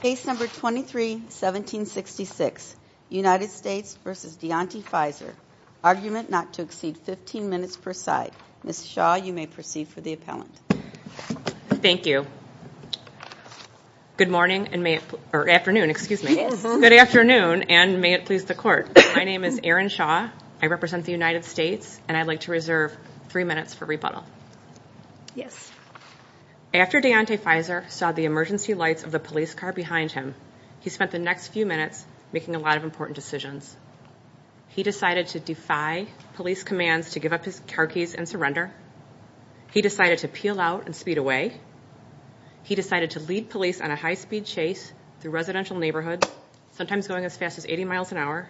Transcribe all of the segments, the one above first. Case number 23-1766 United States v. Dionte Fizer. Argument not to exceed 15 minutes per side. Ms. Shaw, you may proceed for the appellant. Thank you. Good morning and may it, or afternoon, excuse me, good afternoon and may it please the court. My name is Erin Shaw. I represent the United States and I'd like to reserve three minutes for rebuttal. Yes. After Dionte Fizer saw the emergency lights of the police car behind him, he spent the next few minutes making a lot of important decisions. He decided to defy police commands to give up his car keys and surrender. He decided to peel out and speed away. He decided to lead police on a high-speed chase through residential neighborhoods, sometimes going as fast as 80 miles an hour.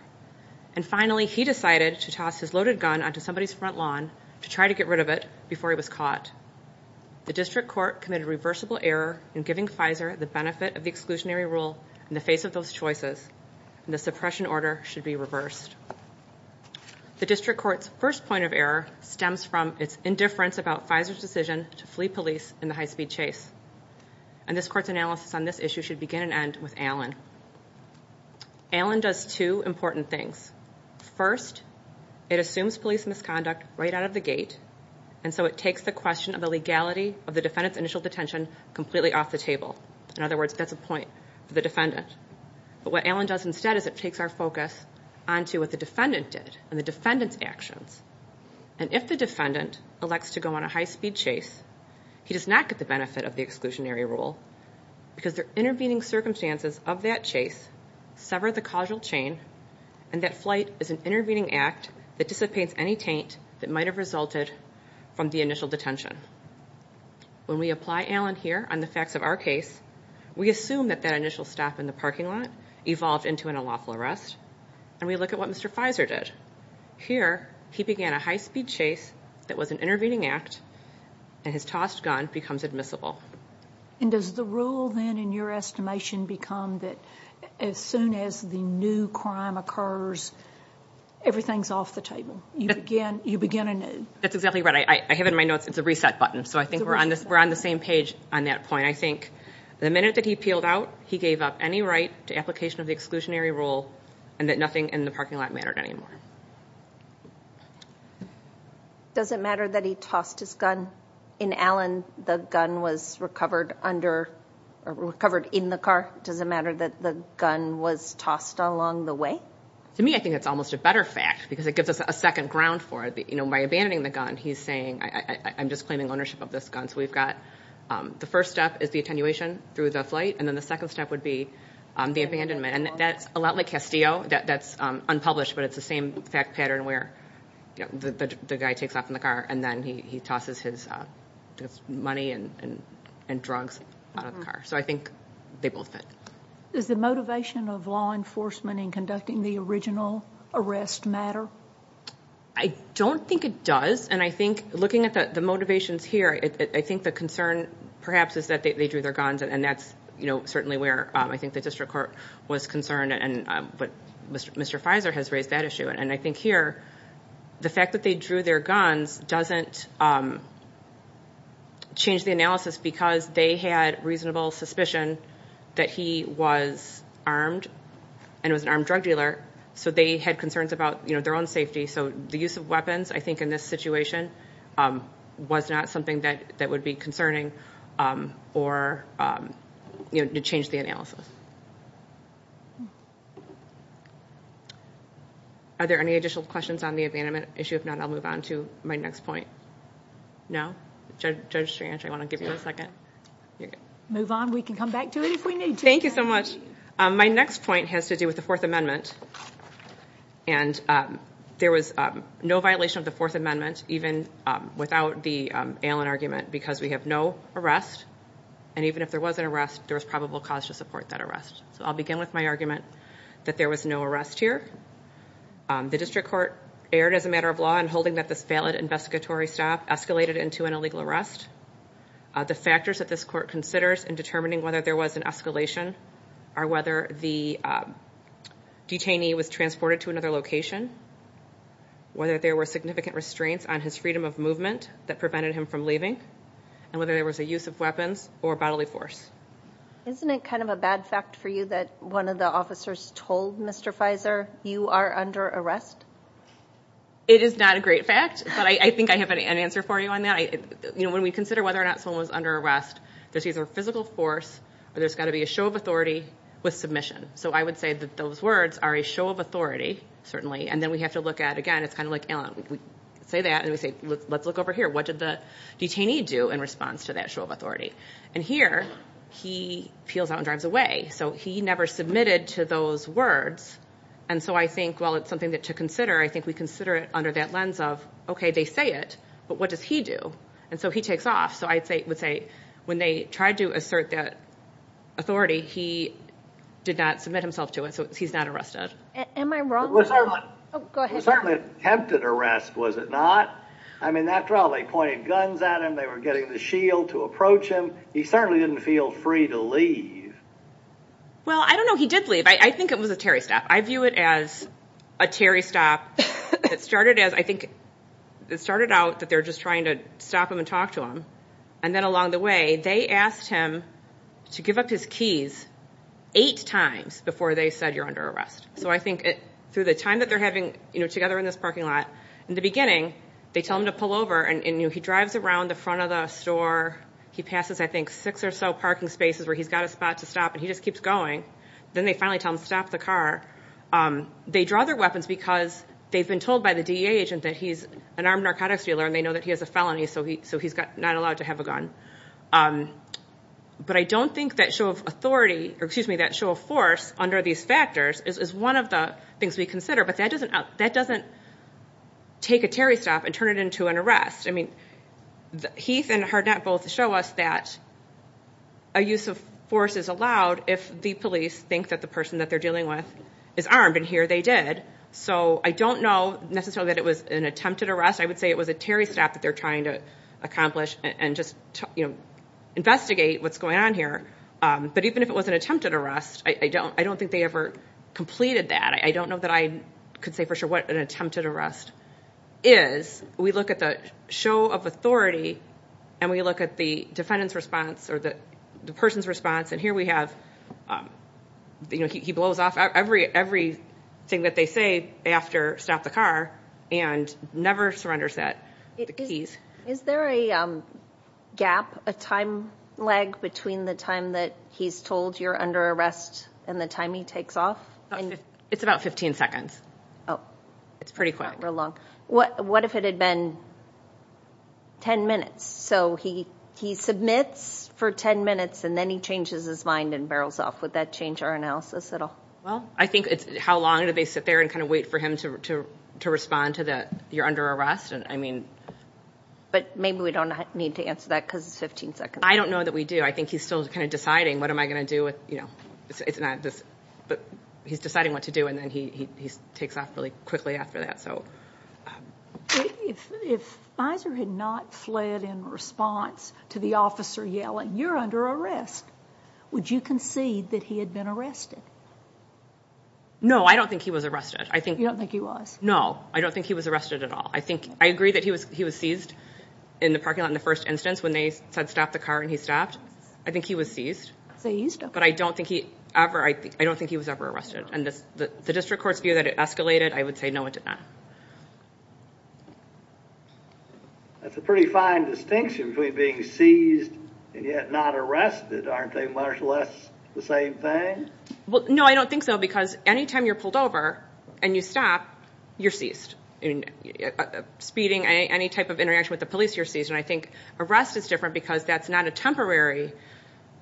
And finally, he decided to toss his loaded gun onto somebody's front lawn to try to get rid of it before he was caught. The district court committed a reversible error in giving Fizer the benefit of the exclusionary rule in the face of those choices. The suppression order should be reversed. The district court's first point of error stems from its indifference about Fizer's decision to flee police in the high-speed chase. And this court's analysis on this issue should begin and end with Allen. Allen does two important things. First, it assumes police misconduct right out of the gate, and so it takes the question of the legality of the defendant's initial detention completely off the table. In other words, that's a point for the defendant. But what Allen does instead is it takes our focus on to what the defendant did and the defendant's actions. And if the defendant elects to go on a high-speed chase, he does not get the benefit of the exclusionary rule because the intervening circumstances of that chase sever the causal chain, and that flight is an intervening act that dissipates any taint that might have resulted from the initial detention. When we apply Allen here on the facts of our case, we assume that that initial stop in the parking lot evolved into an unlawful arrest, and we look at what Mr. Fizer did. Here, he began a high-speed chase that was an intervening act, and his tossed gun becomes admissible. And does the rule then in your estimation become that as soon as the new crime occurs, everything's off the table? You begin anew? That's exactly right. I have in my notes it's a reset button, so I think we're on the same page on that point. I think the minute that he peeled out, he gave up any right to application of the exclusionary rule, and that nothing in the parking lot mattered anymore. Does it matter that he tossed his gun in Allen? The gun was recovered under, or does it matter that the gun was tossed along the way? To me, I think it's almost a better fact, because it gives us a second ground for it. You know, by abandoning the gun, he's saying, I'm just claiming ownership of this gun. So we've got the first step is the attenuation through the flight, and then the second step would be the abandonment. And that's a lot like Castillo. That's unpublished, but it's the same fact pattern where the guy takes off in the car, and then he tosses his money and drugs out of the car. So I think they both fit. Is the motivation of law enforcement in conducting the original arrest matter? I don't think it does, and I think looking at the motivations here, I think the concern perhaps is that they drew their guns, and that's certainly where I think the district court was concerned. But Mr. Fizer has raised that issue, and I think here the fact that they drew their guns doesn't change the analysis, because they had reasonable suspicion that he was armed and was an armed drug dealer, so they had concerns about their own safety. So the use of weapons, I think, in this situation was not something that would be concerning or to change the analysis. Are there any additional questions on the abandonment issue? If not, I'll move on to my next point. No? Judge Ciancio, I want to give you a second. Move on. We can come back to it if we need to. Thank you so much. My next point has to do with the Fourth Amendment, and there was no violation of the Fourth Amendment, even without the Allen argument, because we have no arrest, and even if there was an arrest, there was probable cause to support that arrest. So I'll begin with my argument that there was no arrest here. The district court erred as a matter of law in holding that this valid investigatory staff escalated into an illegal arrest. The factors that this court considers in determining whether there was an escalation are whether the detainee was transported to another location, whether there were significant restraints on his freedom of movement that prevented him from leaving, and whether there was a use of weapons or bodily force. Isn't it kind of a bad fact for you that one of the officers told Mr. Fizer you are under arrest? It is not a great fact, but I think I have an answer for you on that. When we consider whether or not someone was under arrest, there's either physical force or there's got to be a show of authority with submission. So I would say that those words are a show of authority, certainly, and then we have to look at, again, it's kind of like, we say that, and we say, let's look over here. What did the detainee do in response to that show of authority? And here, he peels out and drives away. So he never submitted to those words, and so I think, while it's something to consider, I think we But what does he do? And so he takes off. So I would say, when they tried to assert that authority, he did not submit himself to it. So he's not arrested. Am I wrong? It was certainly an attempted arrest, was it not? I mean, after all, they pointed guns at him. They were getting the shield to approach him. He certainly didn't feel free to leave. Well, I don't know. He did leave. I think it was a Terry stop. I view it as a Terry stop. It started as, I think, it started out that they're just trying to stop him and talk to him, and then, along the way, they asked him to give up his keys eight times before they said, you're under arrest. So I think, through the time that they're having together in this parking lot, in the beginning, they tell him to pull over, and he drives around the front of the store. He passes, I think, six or so parking spaces where he's got a spot to stop, and he just keeps going. Then they finally tell him, stop the car. They draw their weapons because they've been told by the DEA agent that he's an armed narcotics dealer, and they know that he has a felony, so he's not allowed to have a gun. But I don't think that show of authority, or excuse me, that show of force under these factors is one of the things we consider, but that doesn't take a Terry stop and turn it into an arrest. I mean, Heath and Harnett both show us that a use of force is allowed if the police think that the person that they're dealing with is armed, and here they did. So I don't know necessarily that it was an attempted arrest. I would say it was a Terry stop that they're trying to accomplish and just investigate what's going on here. But even if it was an attempted arrest, I don't think they ever completed that. I don't know that I could say for sure what an attempted arrest is. We look at the show of authority, and we look at the defendant's response, or the person's response, and here we have, you know, he blows off every thing that they say after, stop the car, and never surrenders the keys. Is there a gap, a time lag between the time that he's told you're under arrest and the time he takes off? It's about 15 seconds. It's pretty quick. What if it had been 10 minutes? So he submits for 10 minutes, and then he changes his mind and barrels off. Would that change our analysis at all? Well, I think it's how long do they sit there and kind of wait for him to respond to that you're under arrest. But maybe we don't need to answer that because it's 15 seconds. I don't know that we do. I think he's still kind of deciding what am I going to do with, you know, it's not this, but he's deciding what to do, and then he takes off really quickly after that. If Fizer had not fled in response to the officer yelling, you're under arrest, would you concede that he had been arrested? No, I don't think he was arrested. You don't think he was? No, I don't think he was arrested at all. I think, I agree that he was he was seized in the parking lot in the first instance when they said stop the car and he stopped. I think he was seized, but I don't think he ever, I don't think he was ever arrested, and the district court's view that it escalated, I would say no, it did not. That's a pretty fine distinction between being seized and yet not arrested. Aren't they much less the same thing? Well, no, I don't think so because anytime you're pulled over and you stop, you're seized. I mean, speeding, any type of interaction with the police, you're seized, and I think arrest is different because that's not a temporary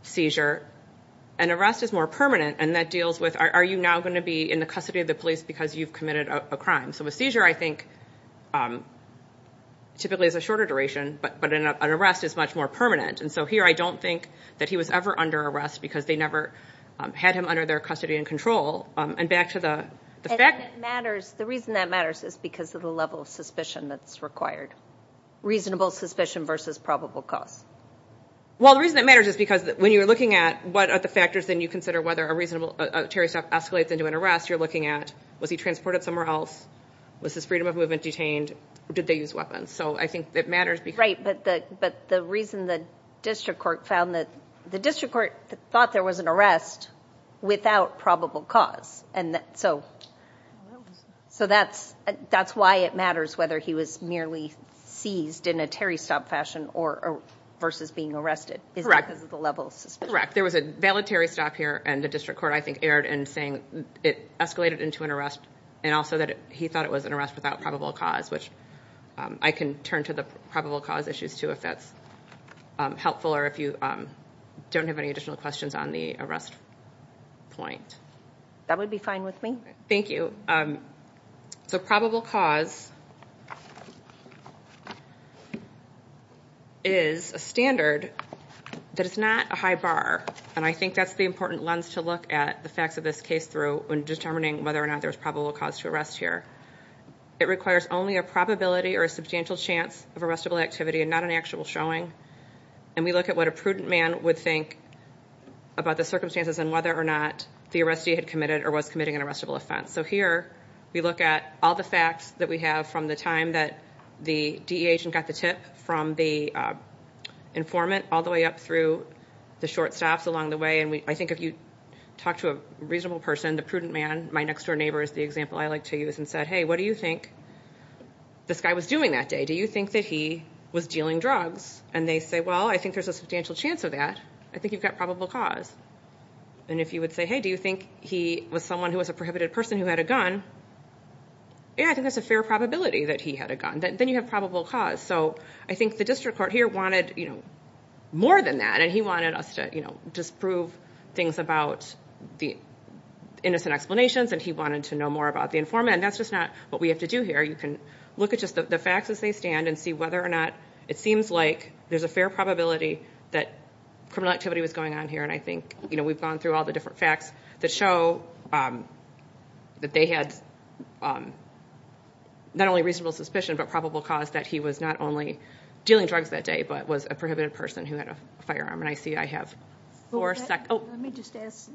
seizure. An arrest is more permanent, and that deals with, are you now going to be in the custody of the police because you've committed a crime? So a seizure, I think, typically is a shorter duration, but an arrest is much more permanent, and so here I don't think that he was ever under arrest because they never had him under their custody and control, and back to the fact... And it matters, the reason that matters is because of the level of suspicion that's required, reasonable suspicion versus probable cause. Well, the reason that matters is because when you're looking at what are the factors, then you consider whether a Terry stop escalates into an arrest, you're looking at was he transported somewhere else, was his freedom of movement detained, or did they use weapons? So I think it matters because... Right, but the reason the district court found that... The district court thought there was an arrest without probable cause, and so that's why it matters whether he was merely seized in a Terry stop fashion versus being arrested. Is that because of the level of suspicion? Correct. There was a valid Terry stop here, and the district court, I think, erred in saying it escalated into an arrest, and also that he thought it was an arrest without probable cause, which I can turn to the probable cause issues too if that's helpful, or if you don't have any additional questions on the arrest point. That would be fine with me. Thank you. So probable cause is a standard that is not a high bar, and I think that's the important lens to look at the facts of this case through when determining whether or not there's probable cause to arrest here. It requires only a probability or a substantial chance of arrestable activity and not an actual showing, and we look at what a prudent man would think about the circumstances and whether or not the arrestee had committed or was committing an arrestable offense. So here, we look at all the facts that we have from the time that the DE agent got the tip from the informant all the way up through the short stops along the way, and I think if you talk to a reasonable person, the prudent man, my next door neighbor is the example I like to use, and said, hey, what do you think this guy was doing that day? Do you think that he was dealing drugs? And they say, well, I think there's a substantial chance of that. I think you've got probable cause. And if you would say, hey, do you think he was someone who was a prohibited person who had a gun? Yeah, I think that's a fair probability that he had a gun. Then you have probable cause. So I think the wanted us to disprove things about the innocent explanations, and he wanted to know more about the informant, and that's just not what we have to do here. You can look at just the facts as they stand and see whether or not it seems like there's a fair probability that criminal activity was going on here, and I think we've gone through all the different facts that show that they had not only reasonable suspicion but probable cause that he was not only dealing drugs that day but was a prohibited person who had a firearm, and I see I have four seconds. Let me just ask,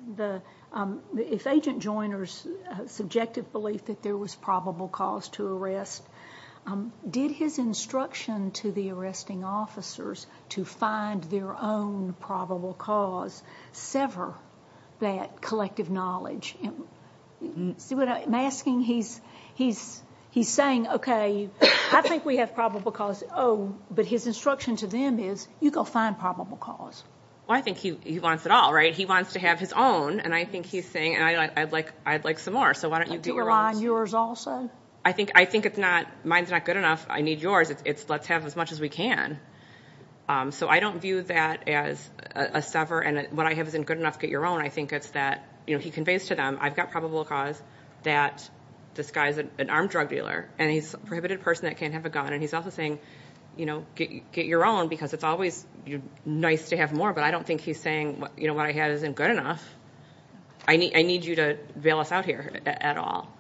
if Agent Joyner's subjective belief that there was probable cause to arrest, did his instruction to the arresting officers to find their own probable cause sever that collective knowledge? See what I'm asking? He's saying, okay, I think we have probable cause, but his instruction to them is, you go find probable cause. Well, I think he wants it all, right? He wants to have his own, and I think he's saying, I'd like some more, so why don't you do your own? Do you rely on yours also? I think it's not, mine's not good enough, I need yours, it's let's have as much as we can. So I don't view that as a sever, and what I have isn't good enough, get your own. I think it's that he conveys to them, I've got probable cause that this guy's an armed drug dealer, and he's a get your own, because it's always nice to have more, but I don't think he's saying what I have isn't good enough. I need you to bail us out here at all.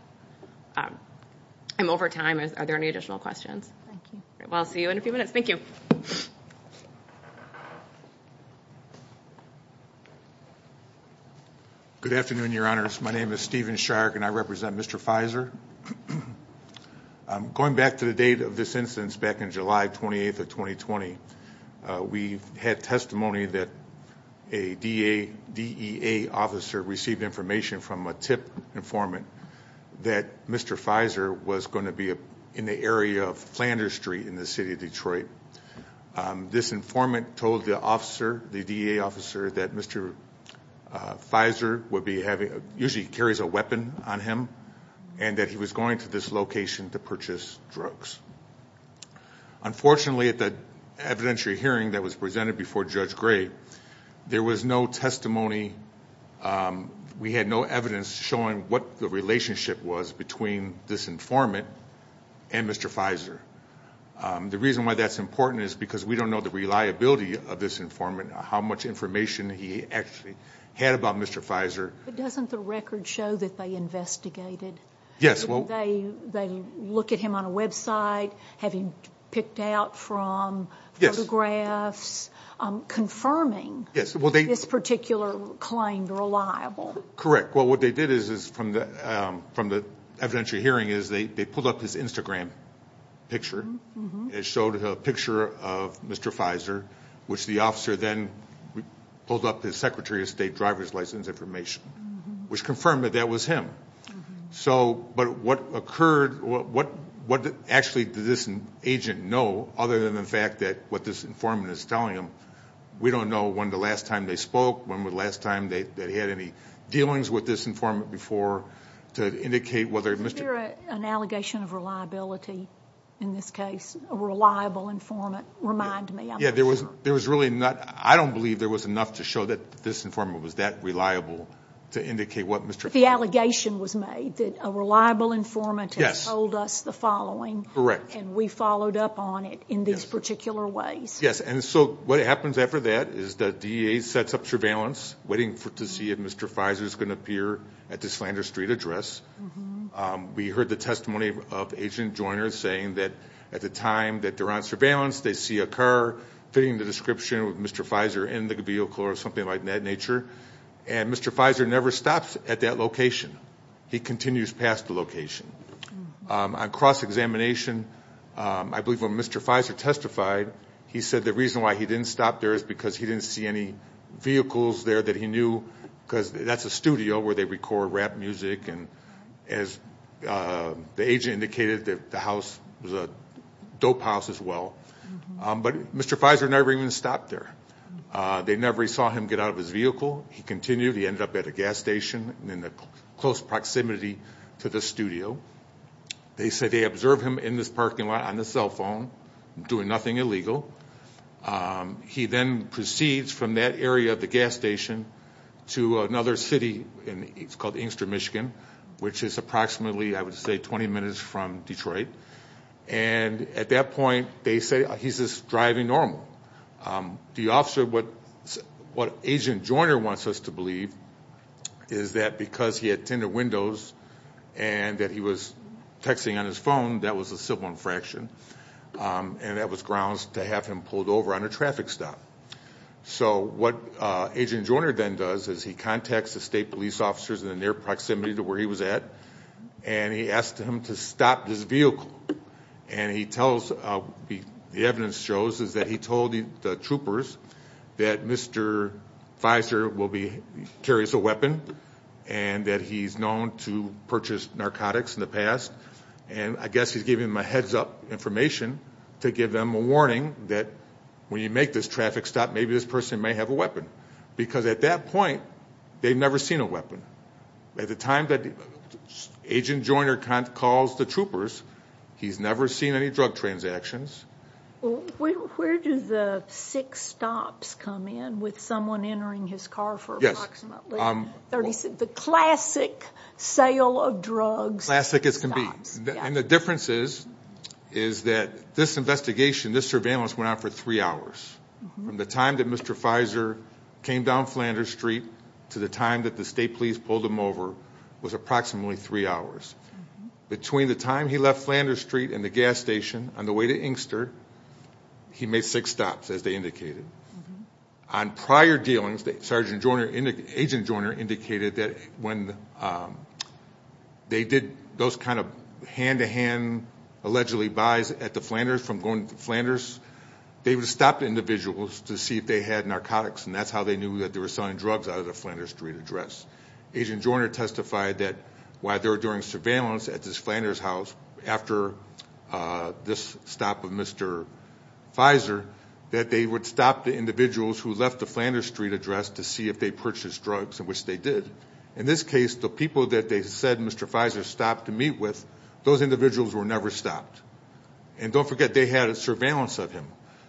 I'm over time, are there any additional questions? Thank you. I'll see you in a few minutes. Thank you. Good afternoon, your honors. My name is Stephen Shark, and I represent Mr. Fizer. I'm going back to the date of this incident back in July 28th of 2020. We've had testimony that a DEA officer received information from a TIP informant that Mr. Fizer was going to be in the area of Flanders Street in the city of Detroit. This informant told the officer, the DEA officer, that Mr. Fizer would be having, usually carries a weapon on him, and that he was going to this location to purchase drugs. Unfortunately, at the evidentiary hearing that was presented before Judge Gray, there was no testimony. We had no evidence showing what the relationship was between this informant and Mr. Fizer. The reason why that's important is because we don't know the reliability of this informant, how much information he actually had about Mr. Fizer. But doesn't the record show that they investigated? Yes. They look at him on a website, have him picked out from photographs, confirming this particular claim reliable? Correct. Well, what they did is, from the evidentiary hearing, is they pulled up his Instagram picture. It showed a picture of Mr. Fizer, which the officer then pulled up his secretary of state driver's license information, which confirmed that that was him. But what actually did this agent know, other than the fact that what this informant is telling him, we don't know when the last time they spoke, when was the last time they had any dealings with this informant before, to indicate whether Mr. Fizer... Is there an allegation of reliability in this case, a reliable informant? Remind me, I'm not sure. There was really not... I don't believe there was enough to show that this informant was that reliable to indicate what Mr. Fizer... The allegation was made that a reliable informant... Yes.... told us the following. Correct. And we followed up on it in these particular ways. Yes. And so what happens after that is the DEA sets up surveillance, waiting to see if Mr. Fizer is going to appear at the Slander Street address. We heard the testimony of Agent Joyner saying that at the time that they're on surveillance, they see a car fitting the description of Mr. Fizer in the vehicle or something of that nature. And Mr. Fizer never stops at that location. He continues past the location. On cross-examination, I believe when Mr. Fizer testified, he said the reason why he didn't stop there is because he didn't see any vehicles there that he knew, because that's a studio where they record rap music. And as the agent indicated, the house was a dope house as well. But Mr. Fizer never even stopped there. They never saw him get out of his vehicle. He continued. He ended up at a gas station in the close proximity to the studio. They said they observed him in this parking lot on the cell phone, doing nothing illegal. He then proceeds from that area of the gas station to another city, and it's called Inkster, Michigan, which is approximately, I would say, 20 minutes from Detroit. And at that point, he's just driving normal. The officer, what Agent Joyner wants us to believe is that because he had tinder windows and that he was texting on his phone, that was a civil infraction. And that was grounds to have him pulled over on a traffic stop. So what Agent Joyner then does is he contacts the state police officers in the near proximity to where he was at, and he asked him to stop this vehicle. And he tells, the evidence shows, is that he told the troopers that Mr. Fizer will be, carries a weapon, and that he's known to purchase narcotics in the past. And I guess he's giving them a heads up information to give them a warning that when you make this traffic stop, maybe this person may have a weapon. Because at that point, they've never seen a weapon. At the time that Agent Joyner calls the troopers, he's never seen any drug transactions. Where do the six stops come in with someone entering his car for approximately 36? The classic sale of drugs. Classic as can be. And the difference is, is that this investigation, this surveillance went on for three hours. From the time that Mr. Fizer came down Flanders Street to the time that the state police pulled him over was approximately three hours. Between the time he left Flanders Street and the gas station on the way to Inkster, he made six stops as they indicated. On prior dealings, Sergeant Joyner, Agent Joyner indicated that when they did those kind of hand-to-hand allegedly buys at the Flanders from going to Flanders, they would stop the individuals to see if they had narcotics. And that's how they knew that they were selling drugs out of the Flanders Street address. Agent Joyner testified that while they were doing surveillance at this Flanders house after this stop of Mr. Fizer, that they would stop the individuals who left the Flanders Street address to see if they purchased drugs, which they did. In this case, the people that they said Mr. Fizer stopped to meet with, those individuals were never stopped. And don't forget they had surveillance of him.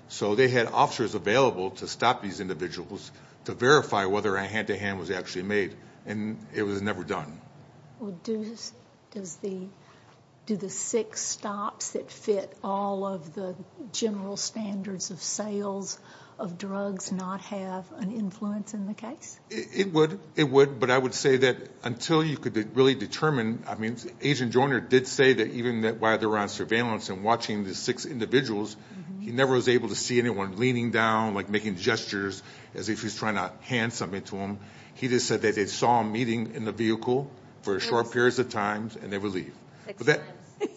So they had officers available to stop these individuals to verify whether a hand-to-hand was actually made. And it was never done. Well, do the six stops that fit all of the general standards of sales of drugs not have an influence in the case? It would. It would. But I would say that you could really determine. I mean, Agent Joyner did say that even while they were on surveillance and watching the six individuals, he never was able to see anyone leaning down, like making gestures as if he's trying to hand something to them. He just said that they saw him meeting in the vehicle for short periods of time and they would leave.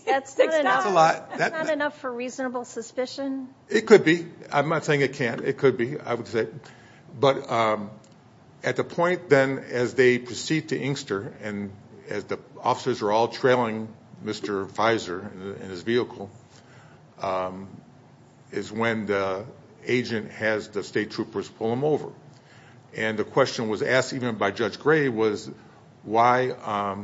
That's not enough for reasonable suspicion. It could be. I'm not saying it can't. It could be. I would say. But at the point then as they proceed to Inkster and as the officers are all trailing Mr. Fizer in his vehicle, is when the agent has the state troopers pull him over. And the question was asked even by Judge Gray was why,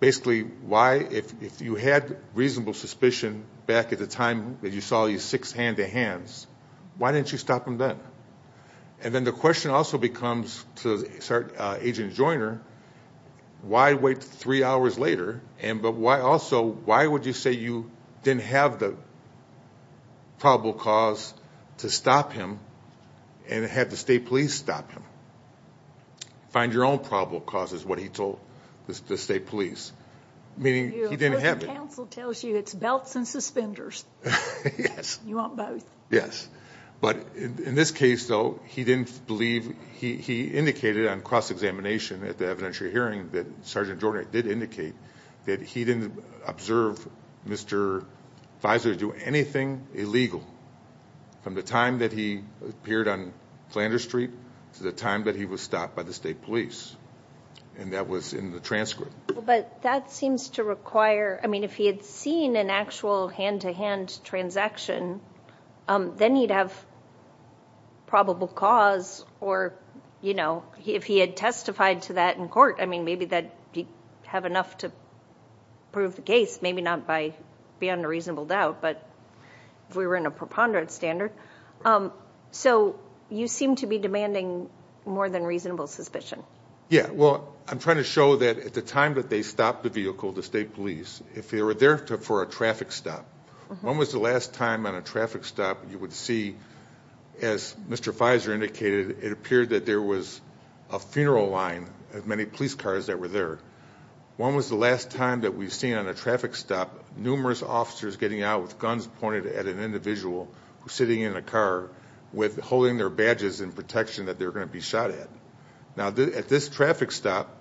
basically, why if you had reasonable suspicion back at the time that you saw these six hand-to-hands, why didn't you stop them then? And then the question also becomes to Agent Joyner, why wait three hours later? And but why also, why would you say you didn't have the probable cause to stop him and had the state police stop him? Find your own probable cause is what he told the state police, meaning he didn't have it. Counsel tells you it's belts and suspenders. Yes. You want both? Yes. But in this case, though, he didn't believe he indicated on cross-examination at the evidentiary hearing that Sergeant Joyner did indicate that he didn't observe Mr. Fizer do anything illegal from the time that he appeared on Flanders Street to the time that he was stopped by the state police. And that was in the transcript. But that seems to require, I mean, if he had seen an actual hand-to-hand transaction, then he'd have probable cause or, you know, if he had testified to that in court, I mean, maybe that he'd have enough to prove the case. Maybe not by beyond a reasonable doubt, but if we were in a preponderant standard. So you seem to be demanding more than reasonable suspicion. Yeah. Well, I'm trying to show that at the time that they stopped the vehicle, the state police, if they were there for a traffic stop, when was the last time on a traffic stop you would see, as Mr. Fizer indicated, it appeared that there was a funeral line, as many police cars that were there. When was the last time that we've seen on a traffic stop, numerous officers getting out with guns pointed at an individual who's sitting in a car with holding their badges in protection that they're going to be shot at. Now, at this traffic stop,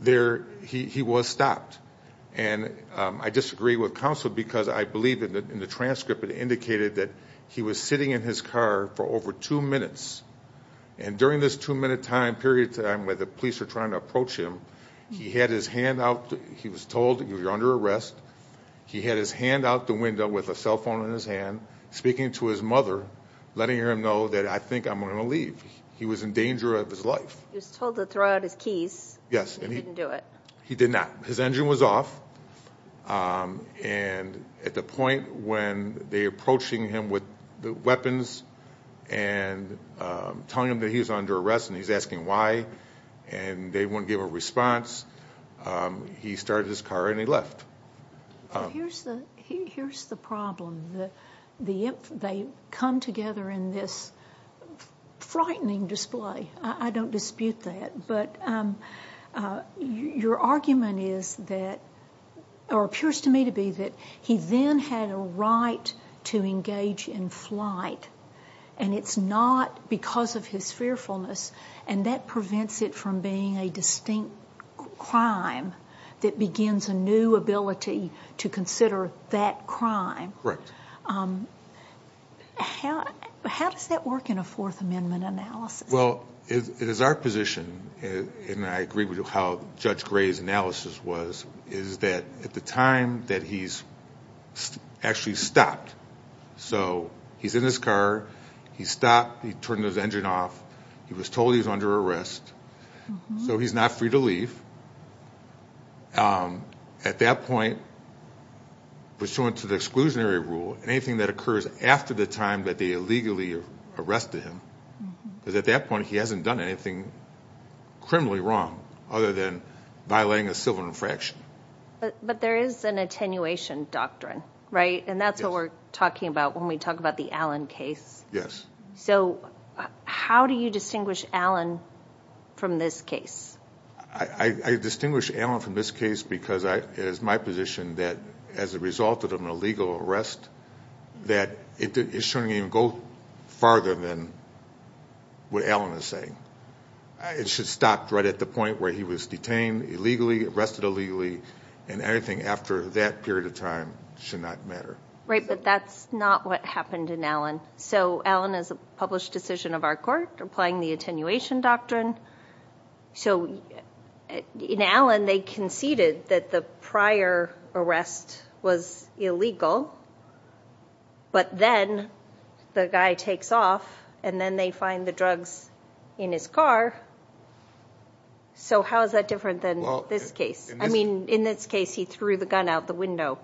there, he was stopped. And I disagree with counsel because I believe that in the transcript, it indicated that he was sitting in his car for over two minutes. And during this two-minute time, period of time where the police were trying to approach him, he had his hand out. He was told, you're under arrest. He had his hand out the window with a cell phone in his hand, speaking to his mother, letting her know that I think I'm going to leave. He was in danger of his life. He was told to throw out his keys. Yes. He didn't do it. He did not. His engine was off. And at the point when they're approaching him with the weapons and telling him that he was under arrest, and he's asking why, and they won't give a response, he started his car and he left. Here's the problem. They come together in this frightening display. I don't dispute that. But your argument is that, or appears to me to be, that he then had a right to engage in flight. And it's not because of his fearfulness. And that prevents it from being a distinct crime that begins a new ability to consider that crime. Correct. How does that work in a Fourth Amendment analysis? Well, it is our position, and I agree with how Judge Gray's analysis was, is that at the time that he's actually stopped. So he's in his car. He stopped. He turned his engine off. He was told he was under arrest. So he's not free to leave. At that point, pursuant to the exclusionary rule, anything that occurs after the time that they illegally arrested him, because at that point he hasn't done anything criminally wrong other than violating a civil infraction. But there is an attenuation doctrine, right? And that's what we're talking about when we talk about the Allen case. Yes. So how do you distinguish Allen from this case? I distinguish Allen from this case because it is my position that as a result of an illegal arrest, that it shouldn't even go farther than what Allen is saying. It should stop right at the point where he was detained illegally, arrested illegally, and anything after that period of time should not matter. Right. But that's not what happened in Allen. So Allen is a published decision of our court applying the attenuation doctrine. So in Allen, they conceded that the prior arrest was illegal, but then the guy takes off and then they find the drugs in his car. So how is that different than this case? I mean, in this case, he threw the gun out the window,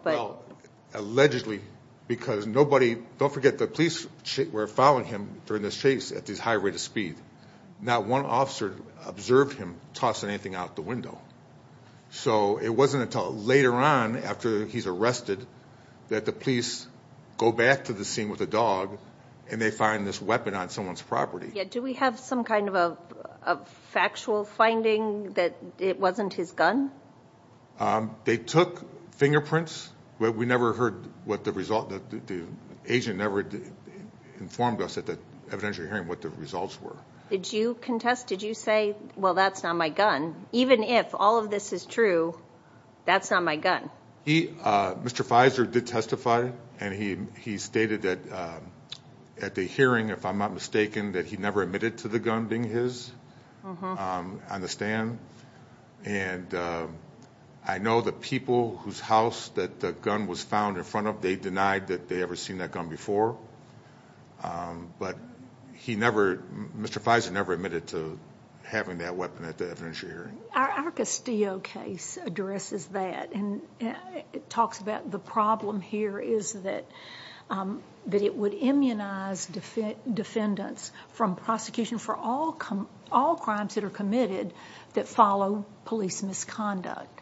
allegedly because nobody, don't forget the police were following him during this chase at this high rate of speed. Not one officer observed him tossing anything out the window. So it wasn't until later on after he's arrested that the police go back to the scene with a dog and they find this weapon on someone's property. Yeah. Do we have some kind of a factual finding that it wasn't his gun? Um, they took fingerprints, but we never heard what the result that the agent never informed us at the evidentiary hearing, what the results were. Did you contest? Did you say, well, that's not my gun. Even if all of this is true, that's not my gun. He, uh, Mr. Fizer did testify and he, he stated that, um, at the hearing, if I'm not mistaken, that he never admitted to the gun being his, um, on the stand. And, um, I know the people whose house that the gun was found in front of, they denied that they ever seen that gun before. Um, but he never, Mr. Fizer never admitted to having that weapon at the evidentiary hearing. Our Castillo case addresses that and it talks about the problem here is that, um, that it would immunize defendants from prosecution for all crimes that are committed that follow police misconduct.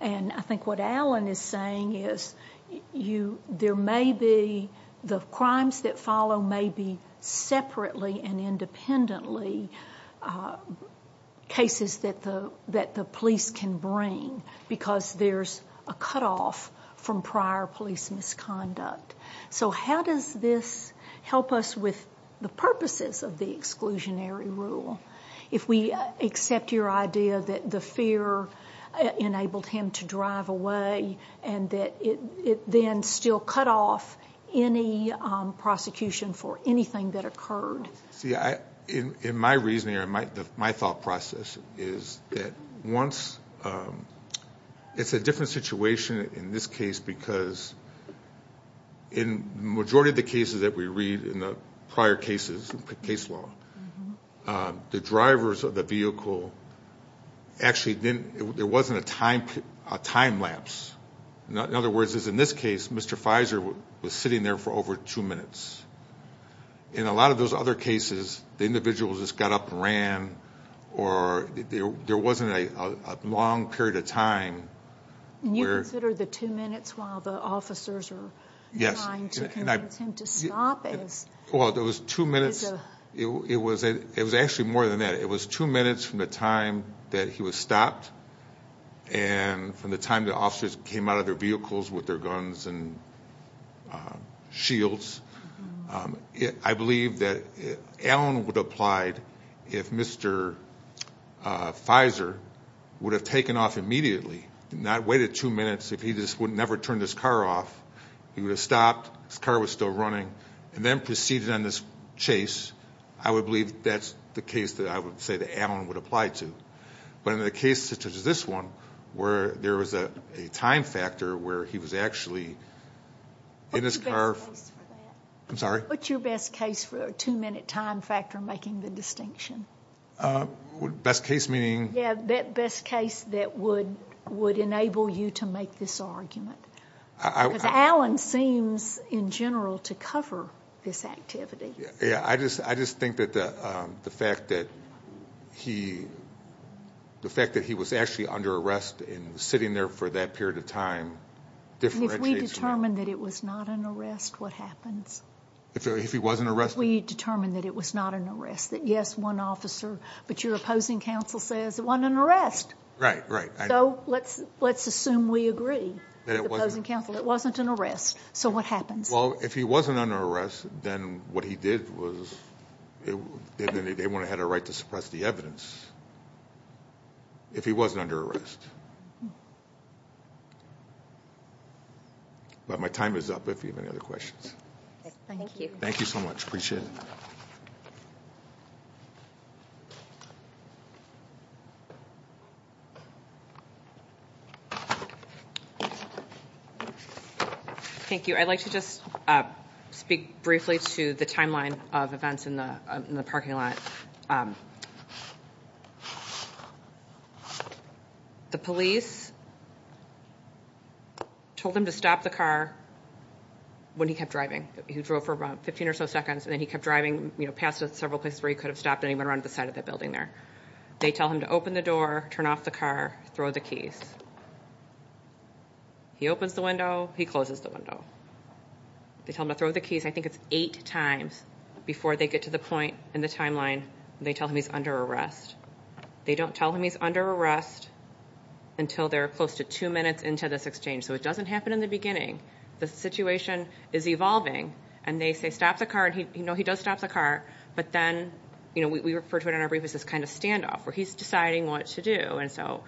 And I think what Alan is saying is you, there may be the crimes that follow may be separately and independently, uh, cases that the, that the police can bring because there's a cutoff from prior police misconduct. So how does this help us with the purposes of the exclusionary rule? If we accept your idea that the fear enabled him to drive away and that it, it then still cut off any, um, prosecution for anything that occurred. See, I, in, in my reasoning or my, my thought process is that once, um, it's a different situation in this case because in majority of the cases that we read in the prior cases, case law, um, the drivers of the vehicle actually didn't, there wasn't a time, time-lapse. In other words, is in this case, Mr. Fizer was sitting there for over two minutes. In a lot of those other cases, the individuals just got up and ran or there wasn't a long period of time. And you consider the two minutes while the officers are trying to convince him to stop? Well, there was two minutes. It was, it was actually more than that. It was two minutes from the time that he was stopped. And from the time the officers came out of their vehicles with their guns and, um, shields, um, I believe that Allen would have applied if Mr. Fizer would have taken off immediately and not waited two minutes. If he just would never turn his car off, he would have stopped. His car was still running and then proceeded on this chase. I would believe that's the case that I would say that Allen would apply to. But in the case such as this one, where there was a time factor where he was actually in his car. I'm sorry? What's your best case for a two-minute time factor making the distinction? Uh, best case meaning? Yeah, that best case that would, would enable you to make this argument. Because Allen seems in general to cover this activity. Yeah, I just, I just think that the, um, the fact that he, the fact that he was actually under arrest and sitting there for that period of time differentiates. If we determined that it was not an arrest, what happens? If, if he wasn't arrested? We determined that it was not an arrest, that yes, one officer, but your opposing counsel says it wasn't an arrest. Right, right. So let's, let's assume we agree that it wasn't counsel. It wasn't an arrest. So what happens? Well, if he wasn't under arrest, then what he did was it, they wouldn't have had a right to suppress the evidence if he wasn't under arrest. But my time is up. If you have any other questions. Thank you. Thank you so much. Appreciate it. Thank you. I'd like to just, uh, speak briefly to the timeline of events in the, in the parking lot. Um, the police told him to stop the car when he kept driving. He drove for about 15 or so seconds and then he kept driving past several places where he could have stopped and he went around to the side of that building there. They tell him to open the door, turn off the car, throw the keys. He opens the window, he closes the window. They tell him to throw the I think it's eight times before they get to the point in the timeline. They tell him he's under arrest. They don't tell him he's under arrest until they're close to two minutes into this exchange. So it doesn't happen in the beginning. The situation is evolving and they say, stop the car. And he, you know, he does stop the car, but then, you know, we, we refer to it in our brief as this kind of standoff where he's deciding what to do. And so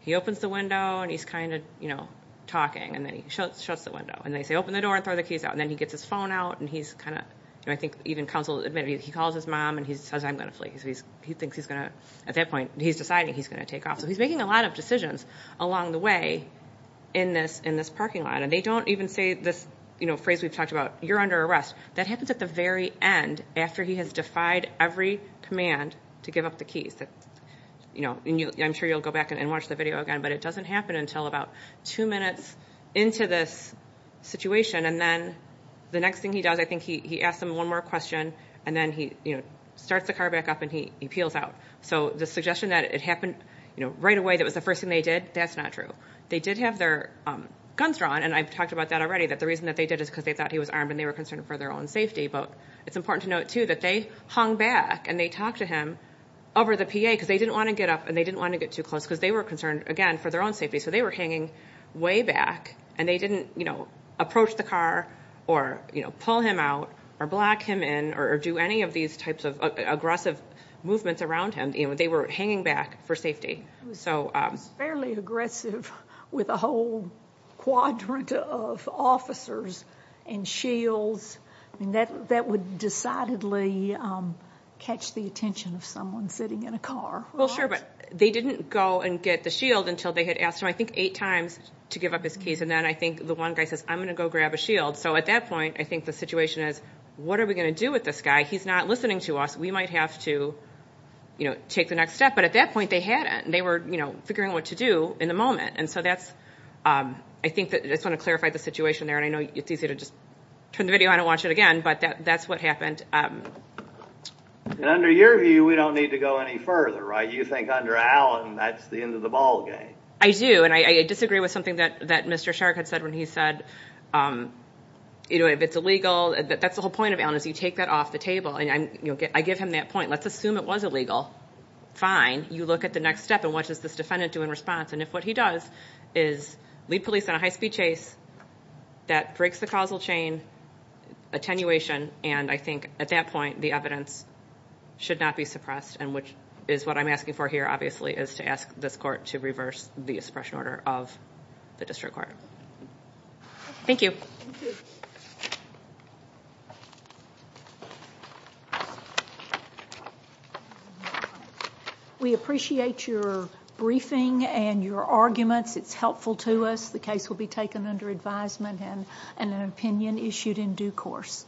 he opens the window and he's kind of, you know, talking and then he shuts the window and they say, open the door and throw the keys and then he gets his phone out and he's kind of, you know, I think even counsel admitted he calls his mom and he says, I'm going to flee. So he's, he thinks he's going to, at that point he's deciding he's going to take off. So he's making a lot of decisions along the way in this, in this parking lot. And they don't even say this, you know, phrase we've talked about, you're under arrest. That happens at the very end after he has defied every command to give up the keys that, you know, and I'm sure you'll go back and watch the video again, but it doesn't happen until about two minutes into this situation. And then the next thing he does, I think he asked him one more question and then he starts the car back up and he peels out. So the suggestion that it happened, you know, right away, that was the first thing they did. That's not true. They did have their guns drawn. And I've talked about that already, that the reason that they did is because they thought he was armed and they were concerned for their own safety. But it's important to note too, that they hung back and they talked to him over the PA because they didn't want to get up and they didn't want to get too close because they were concerned again for their own safety. So they were hanging way back and they didn't, you know, approach the car or, you know, pull him out or block him in or do any of these types of aggressive movements around him. You know, they were hanging back for safety. It was fairly aggressive with a whole quadrant of officers and shields. I mean, that would decidedly catch the attention of someone sitting in a car. Well, they didn't go and get the shield until they had asked him, I think, eight times to give up his keys. And then I think the one guy says, I'm going to go grab a shield. So at that point, I think the situation is, what are we going to do with this guy? He's not listening to us. We might have to, you know, take the next step. But at that point they hadn't. They were, you know, figuring what to do in the moment. And so that's, I think that I just want to clarify the situation there. And I know it's easy to just turn the video on and watch it again, but that's what happened. And under your view, we don't need to go any further, right? You think under Allen, that's the end of the ball game. I do. And I disagree with something that Mr. Sherk had said when he said, you know, if it's illegal, that's the whole point of Allen is you take that off the table. And I give him that point. Let's assume it was illegal. Fine. You look at the next step and what does this defendant do in response? And if what he does is lead police on a high speed chase, that breaks the causal chain attenuation. And I think at that point, the evidence should not be suppressed. And which is what I'm asking for here, obviously, is to ask this court to reverse the expression order of the district court. Thank you. Thank you. We appreciate your briefing and your arguments. It's helpful to us. The case will be taken under advisement and an opinion issued in due course.